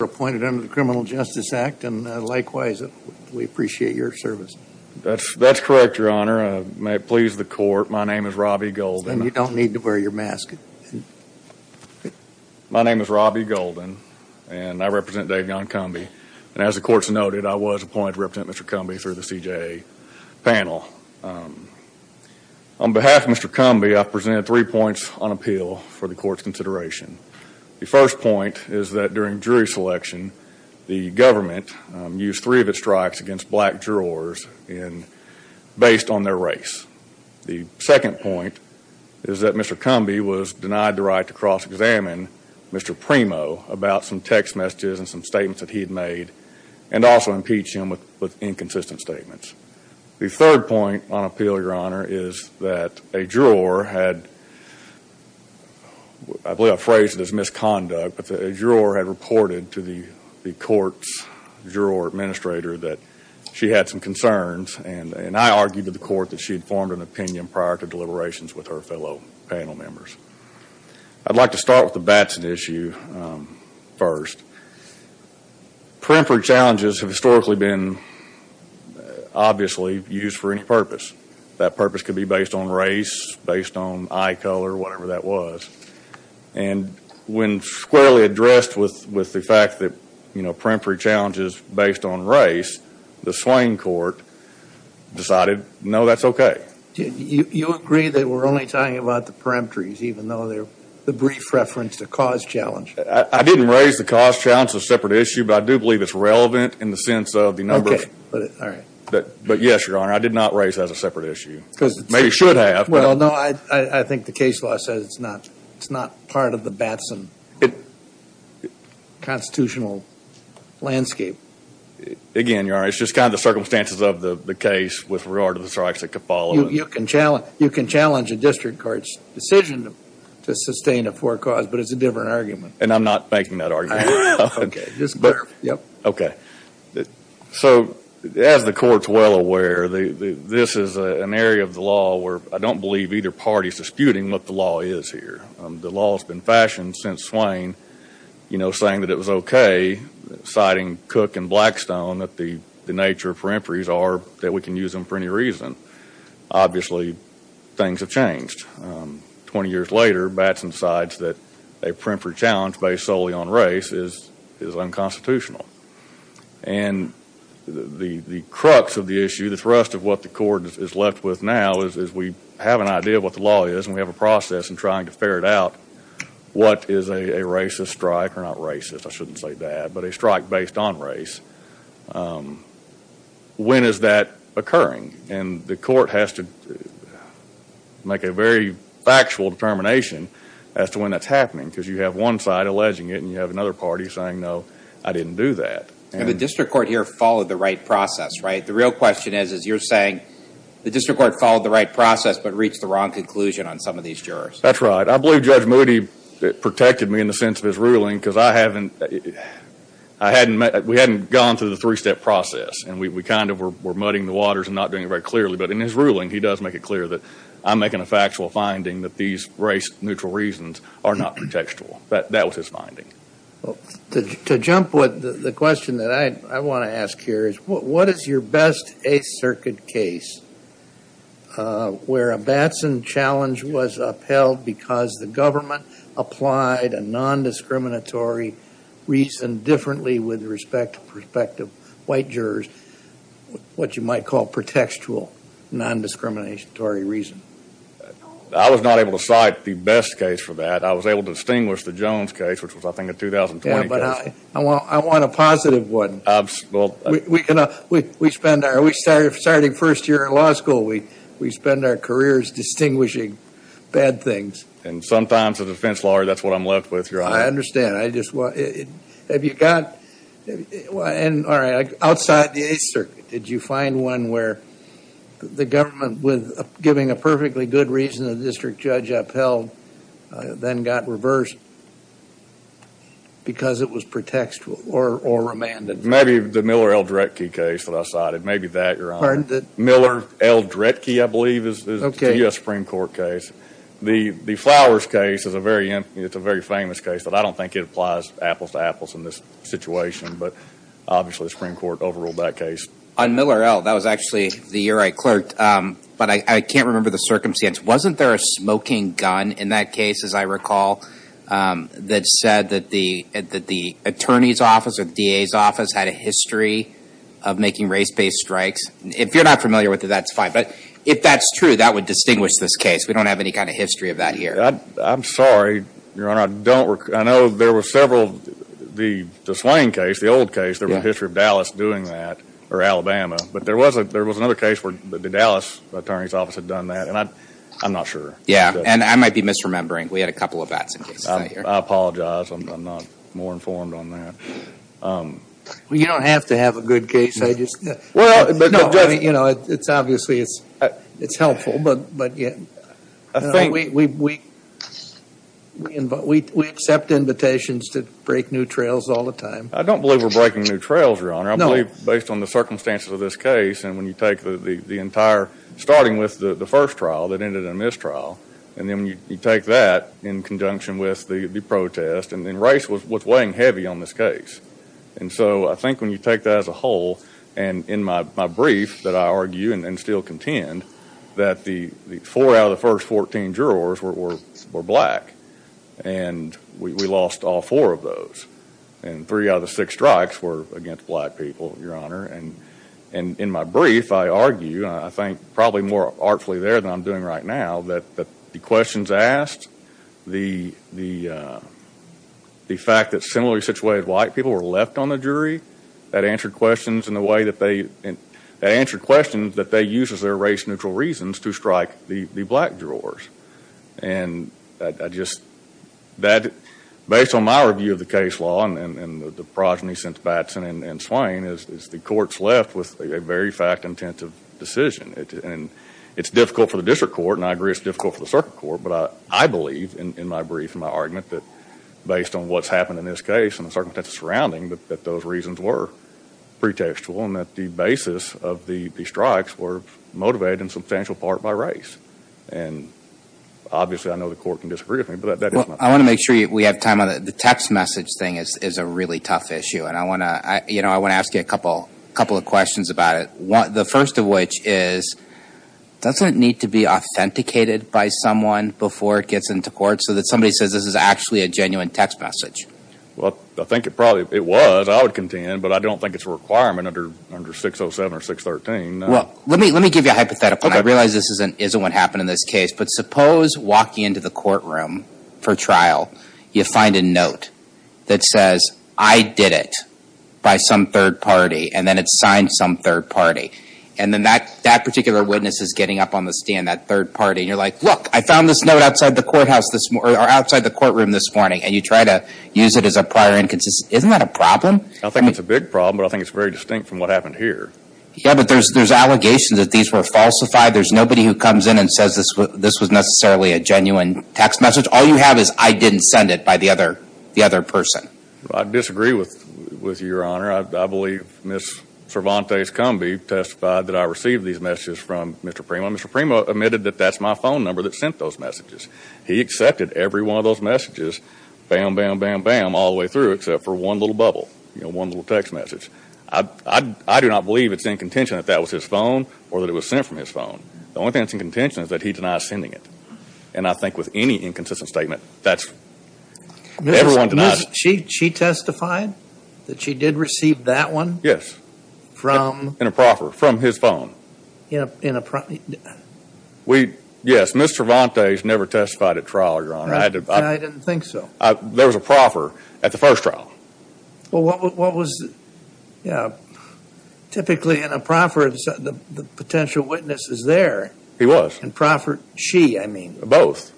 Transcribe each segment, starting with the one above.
appointed under the Criminal Justice Act, and likewise, we appreciate your service. That's correct, your honor. May it please the court, my name is Robbie Golden. And you don't need to wear your mask. My name is Robbie Golden, and I represent Devion Cumbie. And as the court's noted, I was appointed to represent Mr. Cumbie through the CJA panel. On behalf of Mr. Cumbie, I present three points on appeal for the court's consideration. The first point is that during jury selection, the government used three of its strikes against black jurors based on their race. The second point is that Mr. Cumbie was denied the right to cross-examine Mr. Primo about some text messages and some statements that he had made, and also impeach him with inconsistent statements. The third point on appeal, your honor, is that a juror had, I believe I phrased it as misconduct, but a juror had reported to the court's juror administrator that she had some concerns, and I argued to the court that she had formed an opinion prior to deliberations with her fellow panel members. I'd like to start with the Batson issue first. Periphery challenges have historically been, obviously, used for any purpose. That purpose could be based on race, based on eye color, whatever that was, and when squarely addressed with the fact that, you know, periphery challenges based on race, the Swain court decided no, that's okay. Do you agree that we're only talking about the perimetries even though they're the brief reference to cause challenge? I didn't raise the cause challenge as a separate issue, but I do believe it's relevant in the sense of the numbers. Okay, all right. But yes, your honor, I did not raise that as a separate issue. Maybe you should have. Well, no, I think the case law says it's not part of the Batson constitutional landscape. Again, your honor, it's just kind of the circumstances of the case with regard to the strikes that could follow. You can challenge a district court's decision to sustain a forecaused, but it's a different argument. And I'm not making that argument. Okay. So, as the court's well aware, this is an area of the law where I don't believe either party's disputing what the law is here. The law's been fashioned since Swain, you know, saying that it was okay, citing Cook and Blackstone, that the nature of peripheries are that we can use them for any reason. Obviously, things have changed. 20 years later, Batson decides that a periphery challenge based solely on race is unconstitutional. And the crux of the issue, the thrust of what the court is left with now, is we have an idea of what the law is and we have a process in trying to ferret out what is a racist strike, or not racist, I shouldn't say that, but a strike based on race. When is that occurring? And the court has to make a very factual determination as to when that's happening, because you have one side alleging it and you have another party saying, no, I didn't do that. And the district court here followed the right process, right? The real question is, is you're saying the district court followed the right process, but reached the wrong conclusion on some of these jurors. That's right. I believe Judge Moody protected me in the sense of his ruling, because I hadn't, we hadn't gone through the three-step process. And we kind of were muddying the waters and not doing it very clearly. But in his ruling, he does make it clear that I'm making a factual finding that these race-neutral reasons are not protectual. That was his finding. Well, to jump with the question that I want to ask here is, what is your best Eighth Circuit case where a Batson challenge was upheld because the government applied a non-discriminatory reason differently with respect to white jurors, what you might call protectual non-discriminatory reason? I was not able to cite the best case for that. I was able to distinguish the Jones case, which was, I think, a 2020 case. Yeah, but I want a positive one. We can, we spend our, we started first year in law school, we spend our careers distinguishing bad things. And sometimes as a defense lawyer, that's what I'm left with, I understand. I just want, have you got, and all right, outside the Eighth Circuit, did you find one where the government was giving a perfectly good reason the district judge upheld, then got reversed because it was protectual or remanded? Maybe the Miller L. Dretke case that I cited, maybe that, your honor. Miller L. Dretke, I believe, is the U.S. Supreme Court case. The Flowers case is a very, it's a very famous case, but I don't think it applies apples to apples in this situation, but obviously the Supreme Court overruled that case. On Miller L., that was actually the year I clerked, but I can't remember the circumstance. Wasn't there a smoking gun in that case, as I recall, that said that the attorney's office or the DA's office had a history of making race-based strikes? If you're not familiar with it, that's fine. But if that's true, that would distinguish this case. We don't have any kind of history of that here. I'm sorry, your honor, I don't, I know there were several, the Swain case, the old case, there was a history of Dallas doing that, or Alabama, but there was another case where the Dallas attorney's office had done that, and I'm not sure. Yeah, and I might be misremembering. We had a couple of bats in case I hear. I apologize. I'm not more informed on that. Well, you don't have to have a good case. I just, you know, it's obviously, it's helpful, but we accept invitations to break new trails all the time. I don't believe we're breaking new trails, your honor. I believe based on the circumstances of this case, and when you take the entire, starting with the first trial that ended in a mistrial, and then you take that in conjunction with the protest, and then race was weighing heavy on this case, and so I think when you take that as a whole, and in my brief that I argue, and still contend, that the four out of the first 14 jurors were black, and we lost all four of those, and three out of the six strikes were against black people, your honor, and in my brief, I argue, I think probably more artfully there than I'm doing right now, that the questions asked, the fact that similarly situated white people were left on the jury, that answered questions in the way that they, that answered questions that they use as their race-neutral reasons to strike the black jurors, and I just, that based on my review of the case law, and the progeny since Batson and Swain, is the court's left with a very fact-intensive decision, and it's difficult for a circuit court, but I believe in my brief, in my argument, that based on what's happened in this case, and the circumstances surrounding, that those reasons were pretextual, and that the basis of the strikes were motivated in substantial part by race, and obviously, I know the court can disagree with me, but that is my point. Well, I want to make sure we have time on the text message thing is a really tough issue, and I want to, you know, I want to ask you a couple, a couple of questions about it. The first of which is, doesn't it need to be authenticated by someone before it gets into court, so that somebody says this is actually a genuine text message? Well, I think it probably, it was, I would contend, but I don't think it's a requirement under, under 607 or 613. Well, let me, let me give you a hypothetical. I realize this isn't, isn't what happened in this case, but suppose walking into the courtroom for trial, you find a note that says, I did it by some third party, and then it's signed some third party, and then that, that particular witness is getting up on the stand, that third party, and you're like, look, I found this note outside the courthouse this, or outside the courtroom this morning, and you try to use it as a prior inconsistency. Isn't that a problem? I think it's a big problem, but I think it's very distinct from what happened here. Yeah, but there's, there's allegations that these were falsified. There's nobody who comes in and says this was, this was necessarily a genuine text message. All you have is, I didn't send it by the Cervantes Combi testified that I received these messages from Mr. Primo. Mr. Primo admitted that that's my phone number that sent those messages. He accepted every one of those messages, bam, bam, bam, bam, all the way through, except for one little bubble, you know, one little text message. I, I, I do not believe it's in contention that that was his phone or that it was sent from his phone. The only thing that's in contention is that he denies sending it, and I think with any inconsistent statement, that's, everyone denies. She, she testified that she did receive that one? Yes. From? In a proffer, from his phone. In a, in a, we, yes, Mr. Cervantes never testified at trial, Your Honor. I didn't think so. There was a proffer at the first trial. Well, what was, yeah, typically in a proffer, the potential witness is there. He was. And proffered, she, I mean. Both.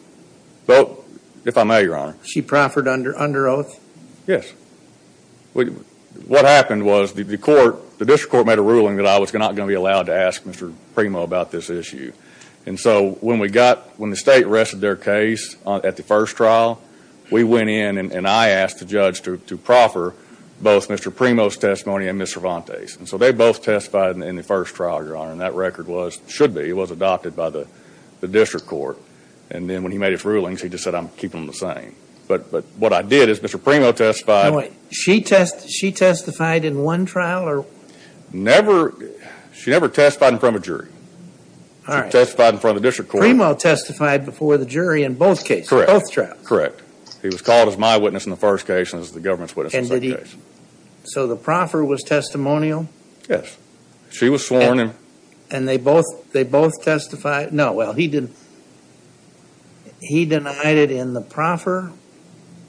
Both, if I may, Your Honor. She proffered under, under oath? Yes. Well, what happened was the court, the district court made a ruling that I was not going to be allowed to ask Mr. Primo about this issue. And so, when we got, when the state rested their case at the first trial, we went in and I asked the judge to, to proffer both Mr. Primo's testimony and Mr. Cervantes. And so, they both testified in the first trial, Your Honor, and that record was, should be, it was adopted by the, the district court. And then when he made his rulings, he just said, I'm keeping them the same. But, but what I did is Mr. Primo testified. She test, she testified in one trial or? Never, she never testified in front of a jury. All right. She testified in front of the district court. Primo testified before the jury in both cases. Correct. Both trials. Correct. He was called as my witness in the first case and as the government's witness in the second case. And did he, so the proffer was testimonial? Yes. She was sworn in. And they both, they both testified, no, well, he didn't, he denied it in the proffer?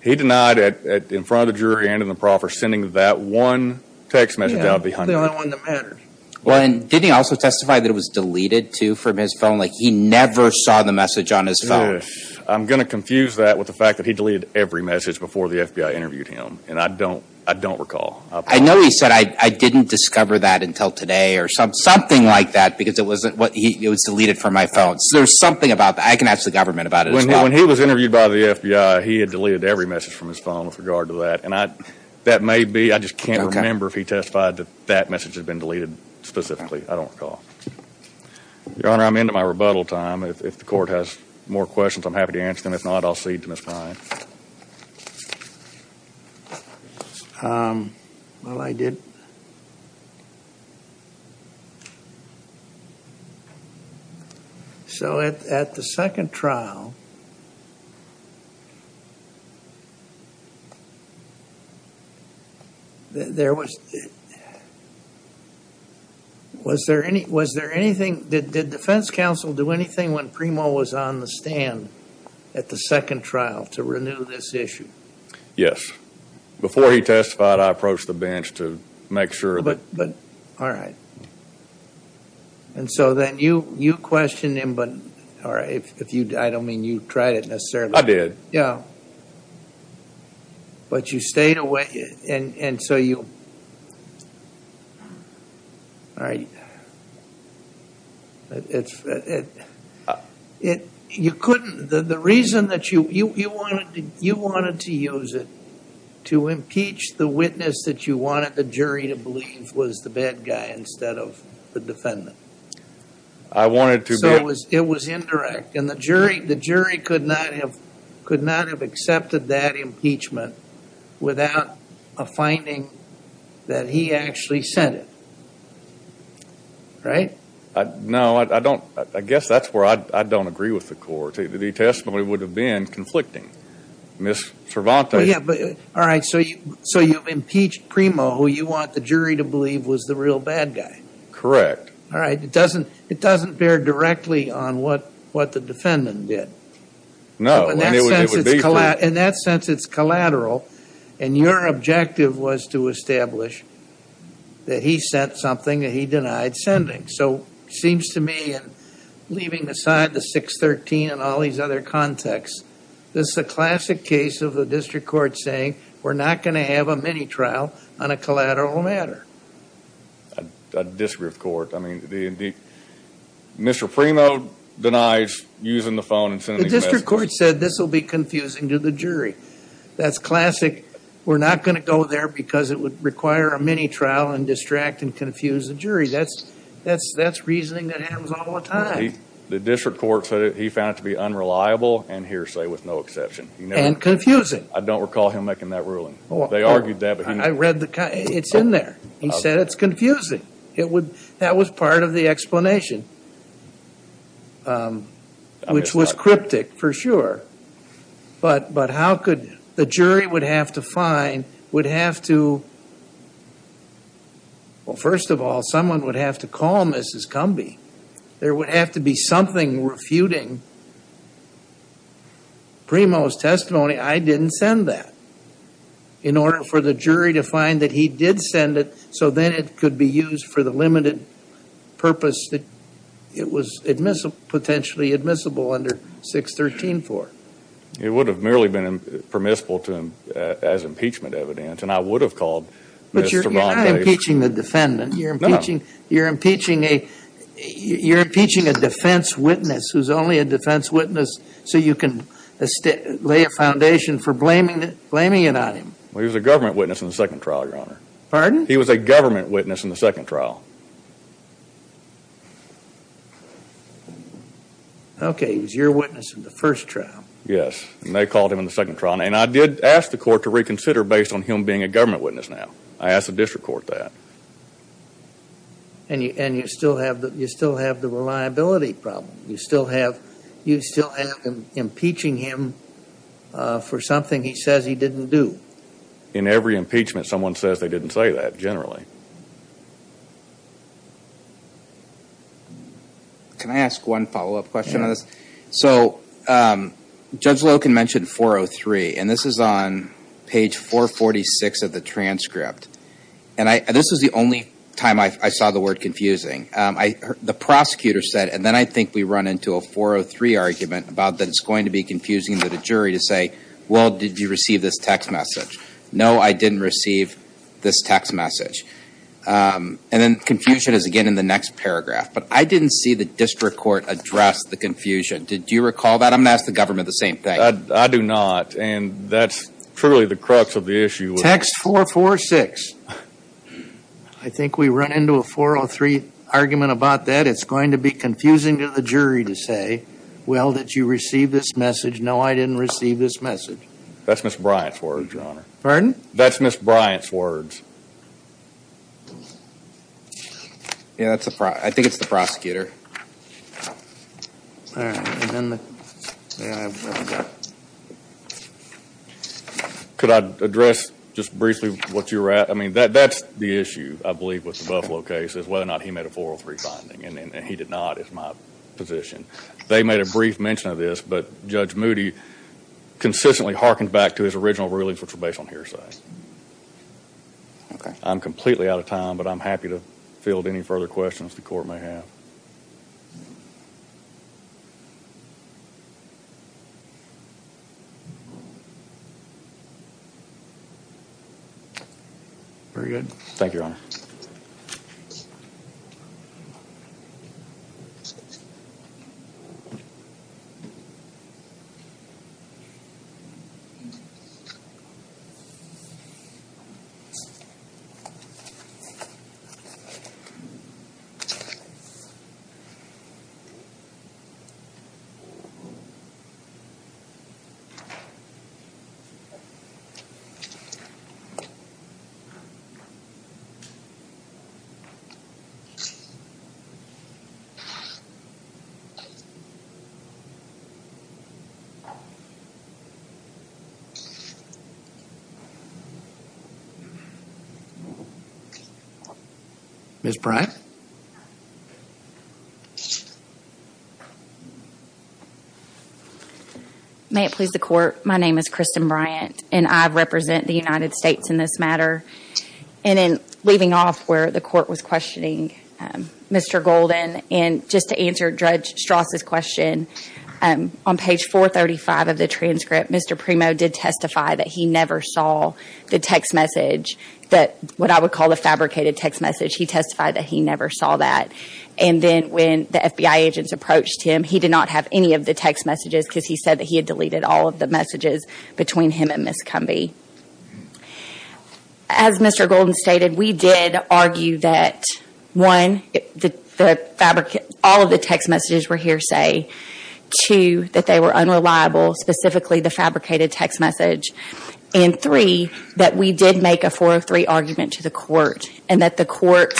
He denied it at, in front of the jury and in the proffer, sending that one text message out behind it. Yeah, the only one that mattered. Well, and didn't he also testify that it was deleted too from his phone? Like, he never saw the message on his phone. Yes. I'm gonna confuse that with the fact that he deleted every message before the FBI interviewed him. And I don't, I don't recall. I know he said, I didn't discover that until today or something like that because it wasn't what he, it was deleted from my phone. So there's something about that. I can ask the government about it as well. When he was interviewed by the FBI, he had deleted every message from his phone with regard to that. And I, that may be, I just can't remember if he testified that that message had been deleted specifically. I don't recall. Your Honor, I'm into my rebuttal time. If the court has more questions, I'm happy to answer them. If not, I'll cede to Ms. Bryan. Well, I did. So at the second trial, there was, was there any, was there anything, did Defense Counsel do anything when Primo was on the stand at the second trial to renew this issue? Yes. Before he testified, I approached the bench to make sure. But, but, all right. And so then you, you questioned him, but, all right, if you, I don't mean you tried it necessarily. I did. Yeah. But you stayed away and, and so you, all right, it's, it, it, you couldn't, the, the reason that you, you, you wanted to, you wanted to use it to impeach the witness that you wanted the jury to believe was the bad guy instead of the defendant. I wanted to be. So it was, it was indirect. And the jury, the jury could not have, could not have accepted that impeachment without a finding that he actually sent it. Right? I, no, I, I don't, I guess that's where I, I don't agree with the court. The testimony would have been conflicting. Ms. Cervantes. Yeah, but, all right, so you, so you've impeached Primo, who you want the jury to believe was the real bad guy. Correct. All right. It doesn't, it doesn't bear directly on what, what the defendant did. No. In that sense, it's collateral. And your objective was to establish that he sent something that he denied sending. So it seems to me, and leaving aside the 613 and all these other contexts, this is a classic case of the district court saying we're not going to have a mini trial on a collateral matter. A disgraced court. I mean, the, the, Mr. Primo denies using the phone and sending these messages. The district court said this will be confusing to the jury. That's classic. We're not going to go there because it would require a mini trial and distract and confuse the jury. That's, that's, that's reasoning that happens all the time. The district court said he found it to be unreliable and hearsay with no exception. And confusing. I don't recall him making that ruling. They argued that, but he. I read the, it's in there. He said it's confusing. It would, that was part of the explanation. Um, which was cryptic for sure. But, but how could the jury would have to find, would have to. Well, first of all, someone would have to call Mrs. Cumbie. There would have to be something refuting Primo's testimony. I didn't send that. In order for the jury to find that he did send it. So then it could be used for the limited purpose that it was admissible, potentially admissible under 613 for. It would have merely been permissible to him as impeachment evidence. And I would have called. But you're not impeaching the defendant. You're impeaching, you're impeaching a, you're impeaching a defense witness who's only a defense witness. So you can lay a foundation for blaming, blaming it on him. Well, he was a government witness in the second trial, pardon? He was a government witness in the second trial. Okay. He was your witness in the first trial. Yes. And they called him in the second trial. And I did ask the court to reconsider based on him being a government witness now. I asked the district court that. And you, and you still have the, you still have the reliability problem. You still have, you still have impeaching him for something he says he didn't do. In every impeachment, someone says they didn't say that generally. Can I ask one follow-up question on this? So Judge Loken mentioned 403, and this is on page 446 of the transcript. And I, this was the only time I saw the word confusing. I, the prosecutor said, and then I think we run into a 403 argument about that it's going to be confusing to the jury to say, well, did you receive this text message? No, I didn't receive this text message. And then confusion is again in the next paragraph, but I didn't see the district court address the confusion. Did you recall that? I'm going to ask the government the same thing. I do not. And that's truly the crux of the issue. Text 446. I think we run into a 403 argument about that. It's going to be confusing to the jury to say, well, did you receive this message? No, I didn't receive this message. That's Ms. Bryant's words, Your Honor. Pardon? That's Ms. Bryant's words. Yeah, that's the, I think it's the prosecutor. Could I address just briefly what you were at? I mean, that's the issue, I believe, with the Buffalo case is whether or not he made a 403 finding. And he did not is my position. They made a brief mention of this, but Judge Moody consistently harkened back to his original rulings, which were based on hearsay. Okay. I'm completely out of time, but I'm happy to field any further questions the court may have. Ms. Bryant? May it please the court, my name is Kristen Bryant, and I represent the United States in this matter. And in leaving off where the court was questioning Mr. Golden, and just to answer Strass' question, on page 435 of the transcript, Mr. Primo did testify that he never saw the text message that, what I would call the fabricated text message, he testified that he never saw that. And then when the FBI agents approached him, he did not have any of the text messages because he said that he had deleted all of the messages between him and Ms. Cumby. As Mr. Golden stated, we did argue that, one, all of the text messages were hearsay. Two, that they were unreliable, specifically the fabricated text message. And three, that we did make a 403 argument to the court, and that the court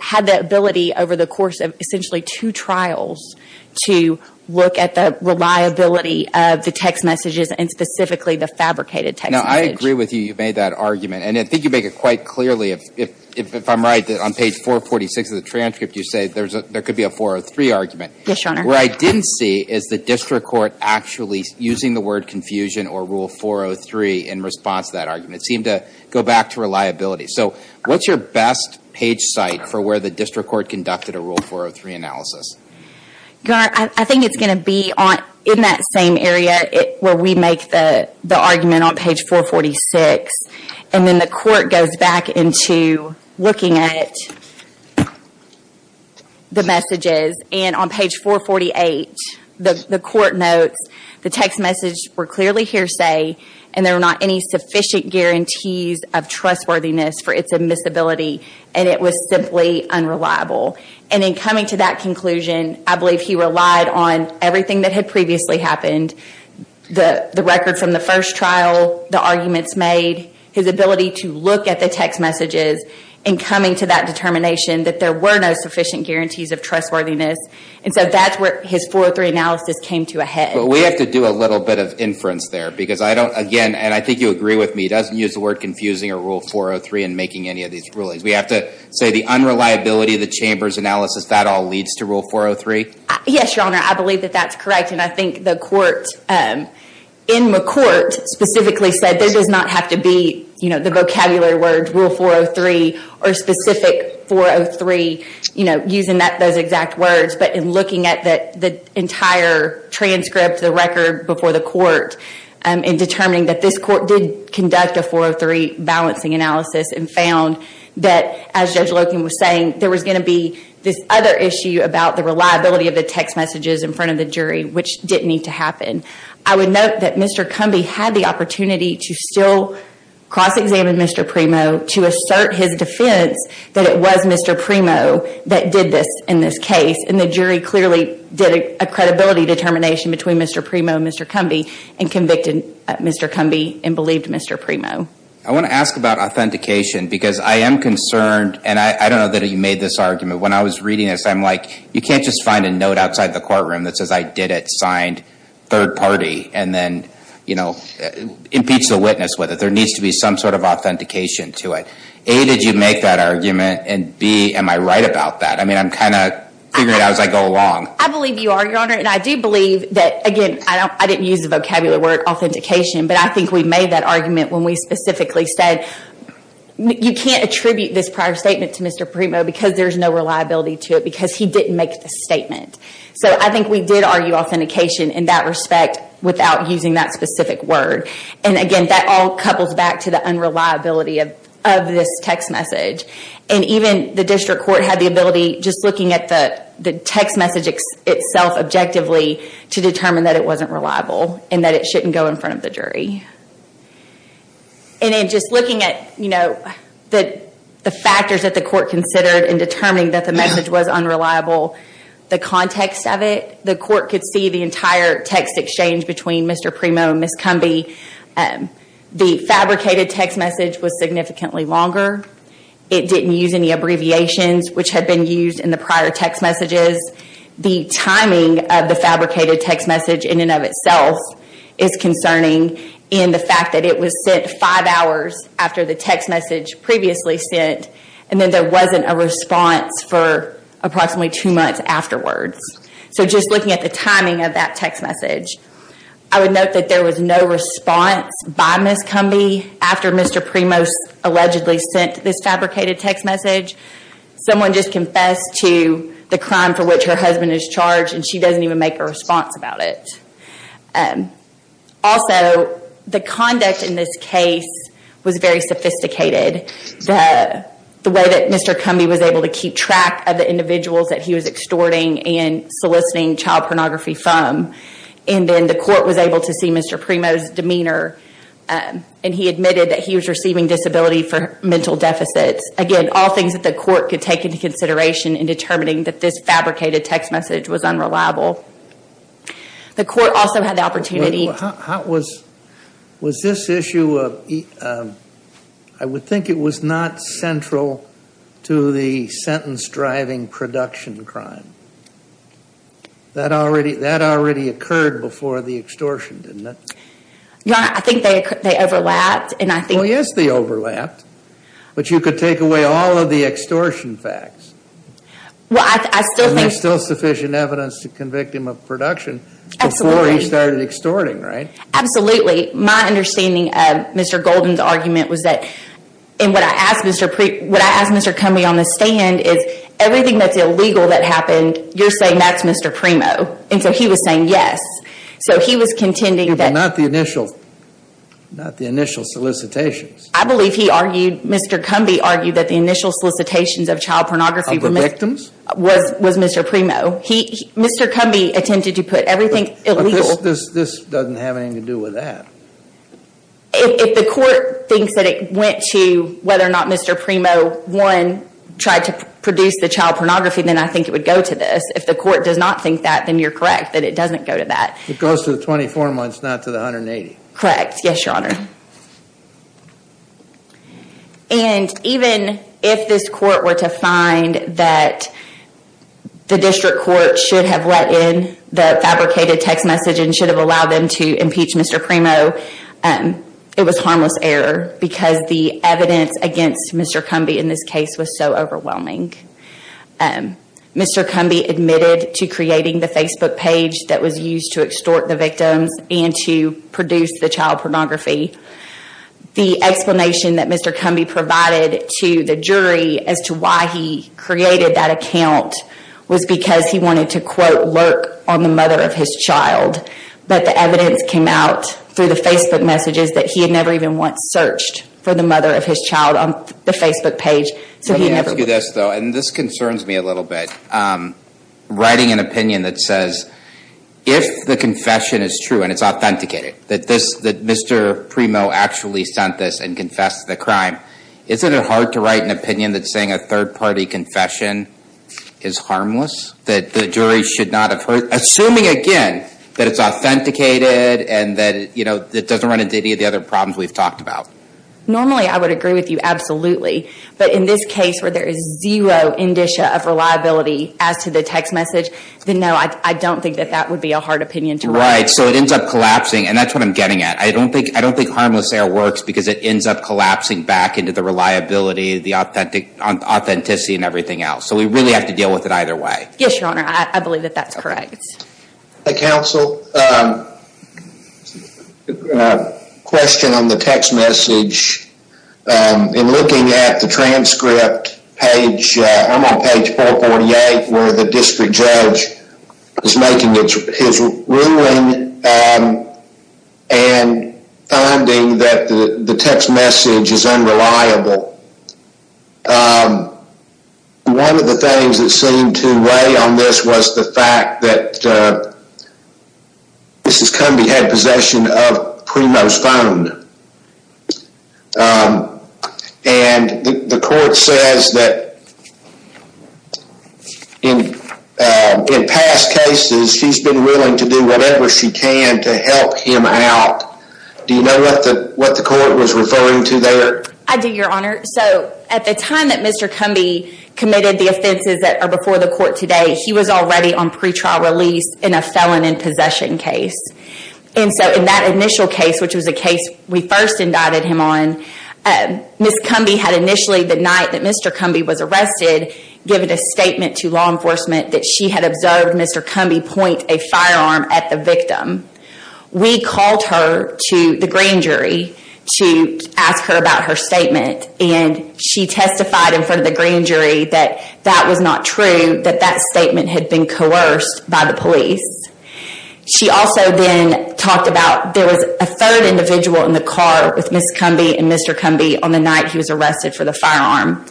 had the ability over the course of essentially two trials to look at the reliability of the text messages, and specifically the fabricated text message. Now I agree with you, you made that argument, and I think you make it quite clearly, if I'm right, that on page 446 of the transcript you say there could be a 403 argument. Yes, your honor. What I didn't see is the district court actually using the word confusion or rule 403 in response to that argument. It seemed to go back to reliability. So what's your best page site for where the district court conducted a rule 403 analysis? Your honor, I think it's going to be in that same area where we make the argument on page 446, and then the court goes back into looking at the messages. And on page 448, the court notes the text message were clearly hearsay, and there were not any sufficient guarantees of trustworthiness for its admissibility, and it was simply unreliable. And in coming to that conclusion, I believe he relied on everything that had previously happened, the record from the first trial, the arguments made, his ability to look at the text messages, and coming to that determination that there were no sufficient guarantees of trustworthiness. And so that's where his 403 analysis came to a head. But we have to do a little bit of inference there, because I don't, again, and I think agree with me, doesn't use the word confusing or rule 403 in making any of these rulings. We have to say the unreliability of the chamber's analysis, that all leads to rule 403? Yes, your honor, I believe that that's correct. And I think the court, in McCourt, specifically said this does not have to be, you know, the vocabulary words rule 403 or specific 403, you know, using those exact words. But in looking at the entire transcript, the record before the court, in determining that this court did conduct a 403 balancing analysis and found that, as Judge Loken was saying, there was going to be this other issue about the reliability of the text messages in front of the jury, which didn't need to happen. I would note that Mr. Cumby had the opportunity to still cross-examine Mr. Primo to assert his defense that it was Mr. Primo that did this in this case. And the jury clearly did a credibility determination between Mr. Primo and Mr. Cumby and convicted Mr. Cumby and believed Mr. Primo. I want to ask about authentication, because I am concerned, and I don't know that you made this argument, when I was reading this, I'm like, you can't just find a note outside the courtroom that says I did it, signed third party, and then, you know, impeach the witness with it. There needs to be some sort of authentication to it. A, did you make that argument? And B, am I right about that? I mean, I'm kind of figuring it out as I go along. I believe you are, Your Honor, and I do believe that, again, I didn't use the vocabulary word authentication, but I think we made that argument when we specifically said, you can't attribute this prior statement to Mr. Primo because there's no reliability to it because he didn't make the statement. So I think we did argue authentication in that respect without using that specific word. And again, that all couples back to the unreliability of this text message. And even the district court had the ability, just looking at the text message itself objectively, to determine that it wasn't reliable and that it shouldn't go in front of the jury. And then just looking at, you know, the factors that the court considered in determining that the message was unreliable, the context of it, the court could see the entire text exchange between Mr. Primo and Ms. Cumby. The fabricated text message was significantly longer. It didn't use any abbreviations, which had been used in the prior text messages. The timing of the fabricated text message in and of itself is concerning in the fact that it was sent five hours after the text message previously sent, and then there wasn't a response for approximately two months afterwards. So just looking at the timing of that text message, I would note that there was no response by Ms. Cumby after Mr. Primo allegedly sent this fabricated text message. Someone just confessed to the crime for which her husband is charged, and she doesn't even make a response about it. Also, the conduct in this case was very sophisticated. The way that Mr. Cumby was able to keep track of the individuals that he was extorting and soliciting child pornography from, and then the court was able to see Mr. Primo's demeanor, and he admitted that he was receiving disability for mental deficits. Again, all things that the court could take into consideration in determining that this fabricated text message was unreliable. The court also had the opportunity... Was this issue, I would think it was not central to the sentence-driving production crime. That already occurred before the extortion, didn't it? Your Honor, I think they overlapped, and I think... Well, yes, they overlapped, but you could take away all of the extortion facts. Well, I still think... And there's still sufficient evidence to convict him of production before he started extorting, right? Absolutely. My understanding of Mr. Golden's argument was that, and what I asked Mr. Cumby on the stand is, everything that's illegal that happened, you're saying that's Mr. Primo, and so he was saying yes. So he was contending that... But not the initial solicitations. I believe he argued, Mr. Cumby argued, that the initial solicitations of child pornography... Of the victims? Was Mr. Primo. Mr. Cumby attempted to put everything illegal... This doesn't have anything to do with that. If the court thinks that it went to whether or not Mr. Primo, one, tried to produce the child pornography, then I think it would go to this. If the court does not think that, then you're correct, that it doesn't go to that. It goes to the 24 months, not to the 180. Correct. Yes, Your Honor. And even if this court were to find that the district court should have let in the fabricated text message and should have allowed them to impeach Mr. Primo, it was harmless error because the evidence against Mr. Cumby in this case was so overwhelming. Mr. Cumby admitted to creating the Facebook page that was used to extort the victims and to produce the child pornography. The explanation that Mr. Cumby provided to the jury as to why he created that account was because he wanted to, quote, lurk on the mother of his child. But the evidence came out through the Facebook messages that he had never even once searched for the mother of his child on the Facebook page. So he never... Let me ask you this though, and this concerns me a little bit. Writing an opinion that says, if the confession is true and it's authenticated, that Mr. Primo actually sent this and confessed the crime, isn't it hard to write an opinion that's saying a third party confession is harmless? That the jury should not have heard... Assuming again that it's authenticated and that it doesn't run into any of the other problems we've talked about. Normally, I would agree with you. Absolutely. But in this case where there is zero indicia of reliability as to the text message, then no, I don't think that that would be a hard opinion to write. Right. So it ends up collapsing. And that's what I'm getting at. I don't think harmless there works because it ends up collapsing back into the reliability, the authenticity, and everything else. So we really have to deal with it either way. Yes, Your Honor. I believe that that's correct. Hi, counsel. Question on the text message. In looking at the transcript page, I'm on page 448 where the district judge is ruling and finding that the text message is unreliable. One of the things that seemed to weigh on this was the fact that this has come to the head possession of Primo's phone. And the court says that in past cases, she's been willing to do whatever she can to help him out. Do you know what the court was referring to there? I do, Your Honor. So at the time that Mr. Cumby committed the offenses that are before the court today, he was already on pretrial release in a felon in possession case. And so in that initial case, which was a case we first indicted him on, Ms. Cumby had initially, the night that Mr. Cumby was arrested, given a statement to law enforcement that she had observed Mr. Cumby point a firearm at the victim. We called her to the grand jury to ask her about her statement. And she testified in front of the grand jury that that was not true, that that statement had been coerced by the police. She also then talked about there was a third individual in the car with Ms. Cumby and Mr. Cumby on the night he was arrested for the firearm.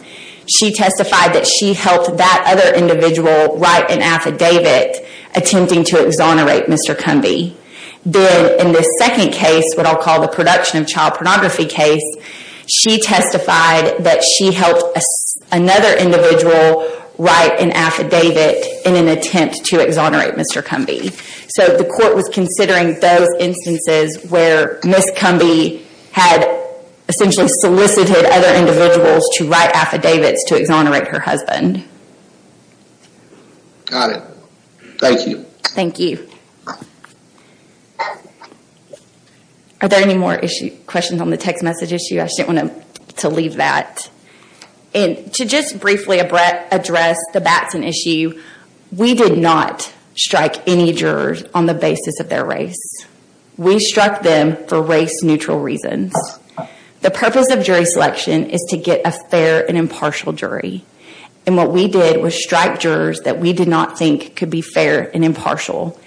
She testified that she helped that other individual write an affidavit attempting to exonerate Mr. Cumby. Then in the second case, what I'll call the production of child pornography case, she testified that she helped another individual write an affidavit in an attempt to exonerate Mr. Cumby. So the court was considering those instances where Ms. Cumby had essentially solicited other individuals to write affidavits to exonerate her husband. Got it. Thank you. Thank you. Are there any more questions on the text message issue? I just didn't want to leave that. And to just briefly address the Batson issue, we did not strike any jurors on the basis of their race. We struck them for race neutral reasons. The purpose of jury selection is to get a fair and impartial jury. And what we did was strike jurors that we did not think could be fair and impartial.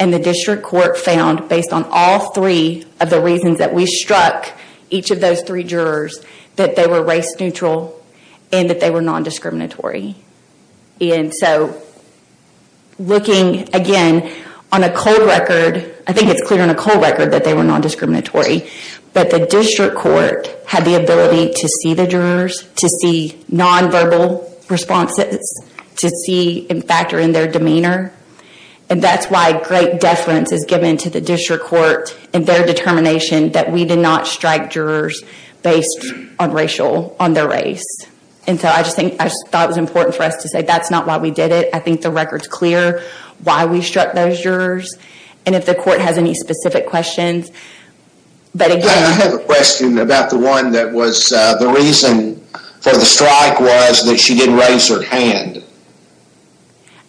And the district court found based on all three of the reasons that we struck each of those three jurors, that they were race neutral and that they were non-discriminatory. And so looking again on a cold record, I think it's clear on a cold record that they were non-discriminatory, but the district court had the ability to see the jurors, to see non-verbal responses, to see and factor in their demeanor. And that's why great deference is given to the district court and their determination that we did not strike jurors based on racial, on their race. And so I thought it was important for us to say that's not why we did it. I think the record's clear why we struck those jurors and if the court has any specific questions. But again, I have a question about the one that was the reason for the strike was that she didn't raise her hand.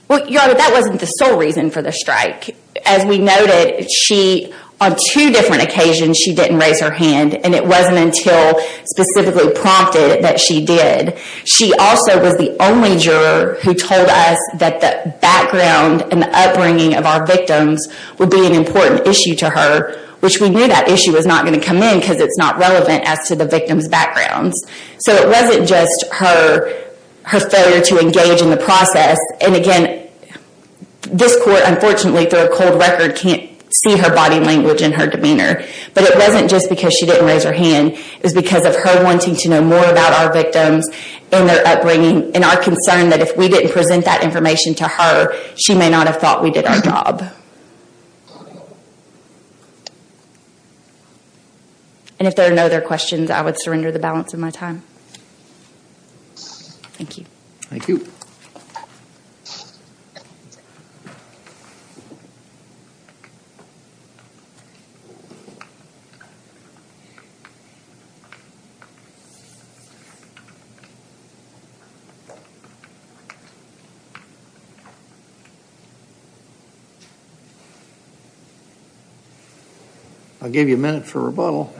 Well your honor, that wasn't the sole reason for the strike. As we noted, she, on two different occasions, she didn't raise her hand and it wasn't until specifically prompted that she did. She also was the only juror who told us that the background and the upbringing of our victims would be an important issue to her, which we knew that issue was not going to come in because it's not relevant as to the victim's backgrounds. So it wasn't just her failure to engage in the process. And again, this court unfortunately through a cold record can't see her body language and her demeanor. But it wasn't just because she didn't raise her hand, it was because of her wanting to know more about our victims and their upbringing and our concern that if we didn't present that information to her, she may not have thought we did our job. And if there are no other questions, I would surrender the balance of my time. Thank you. Thank you. I'll give you a minute for rebuttal.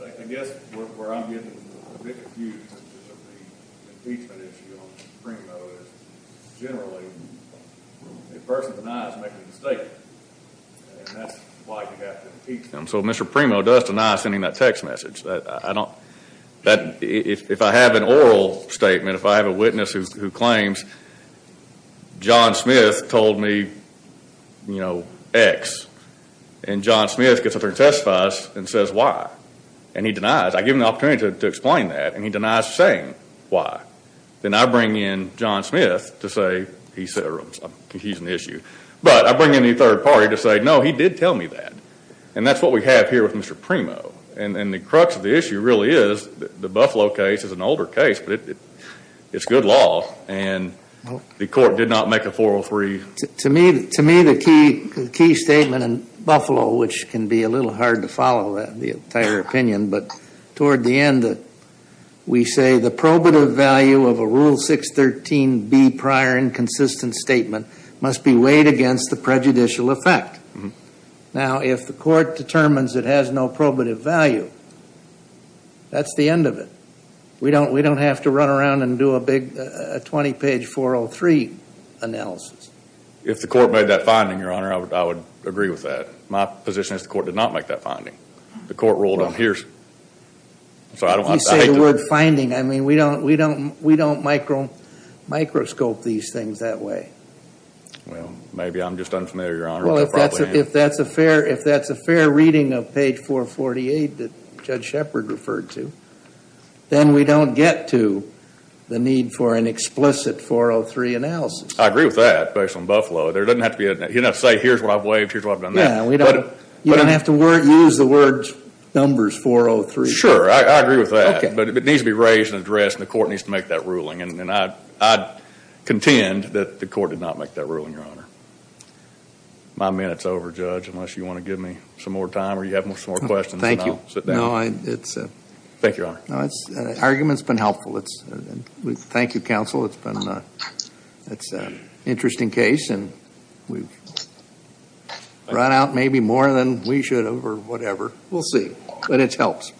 I guess where I'm getting a bit confused with the impeachment issue on Primo is generally a person denies making a mistake and that's why you have to impeach them. So Mr. Primo does deny sending that text message. If I have an oral statement, if I have a witness who claims John Smith told me you know X and John Smith gets up there and testifies and says Y and he denies. I give him the opportunity to explain that and he denies saying Y. Then I bring in John Smith to say he's an issue. But I bring in the third party to say no, he did tell me that. And that's what we have here with Mr. Primo. And the crux of the issue really is the Buffalo case is an older case, but it's good law and the court did not make a 403. To me the key statement in Buffalo, which can be a little hard to follow the entire opinion, but toward the end we say the probative value of a Rule 613B prior inconsistent statement must be weighed against the prejudicial effect. Now if the court determines it has no probative value, that's the end of it. We don't have to run around and do a big 20 page 403 analysis. If the court made that finding, your honor, I would agree with that. My position is the court did not make that finding. The court ruled on hearsay. You say the word finding. I mean we don't microscope these things that way. Well maybe I'm just unfamiliar, your honor. If that's a fair reading of page 448 that Judge Shepard referred to, then we don't get to the need for an explicit 403 analysis. I agree with that based on Buffalo. There doesn't have to be a, you don't have to say here's what I've weighed, here's what I've done that. You don't have to use the word numbers 403. Sure, I agree with that, but it needs to be raised and addressed and the court needs to make that ruling. And I contend that the court did not make that ruling, your honor. My minute's over, Judge, unless you want to give me some more time or you have some more questions. No, sit down. Thank you, your honor. Argument's been helpful. Thank you, counsel. It's been an interesting case and we've run out maybe more than we should have or whatever. We'll see, but it helps.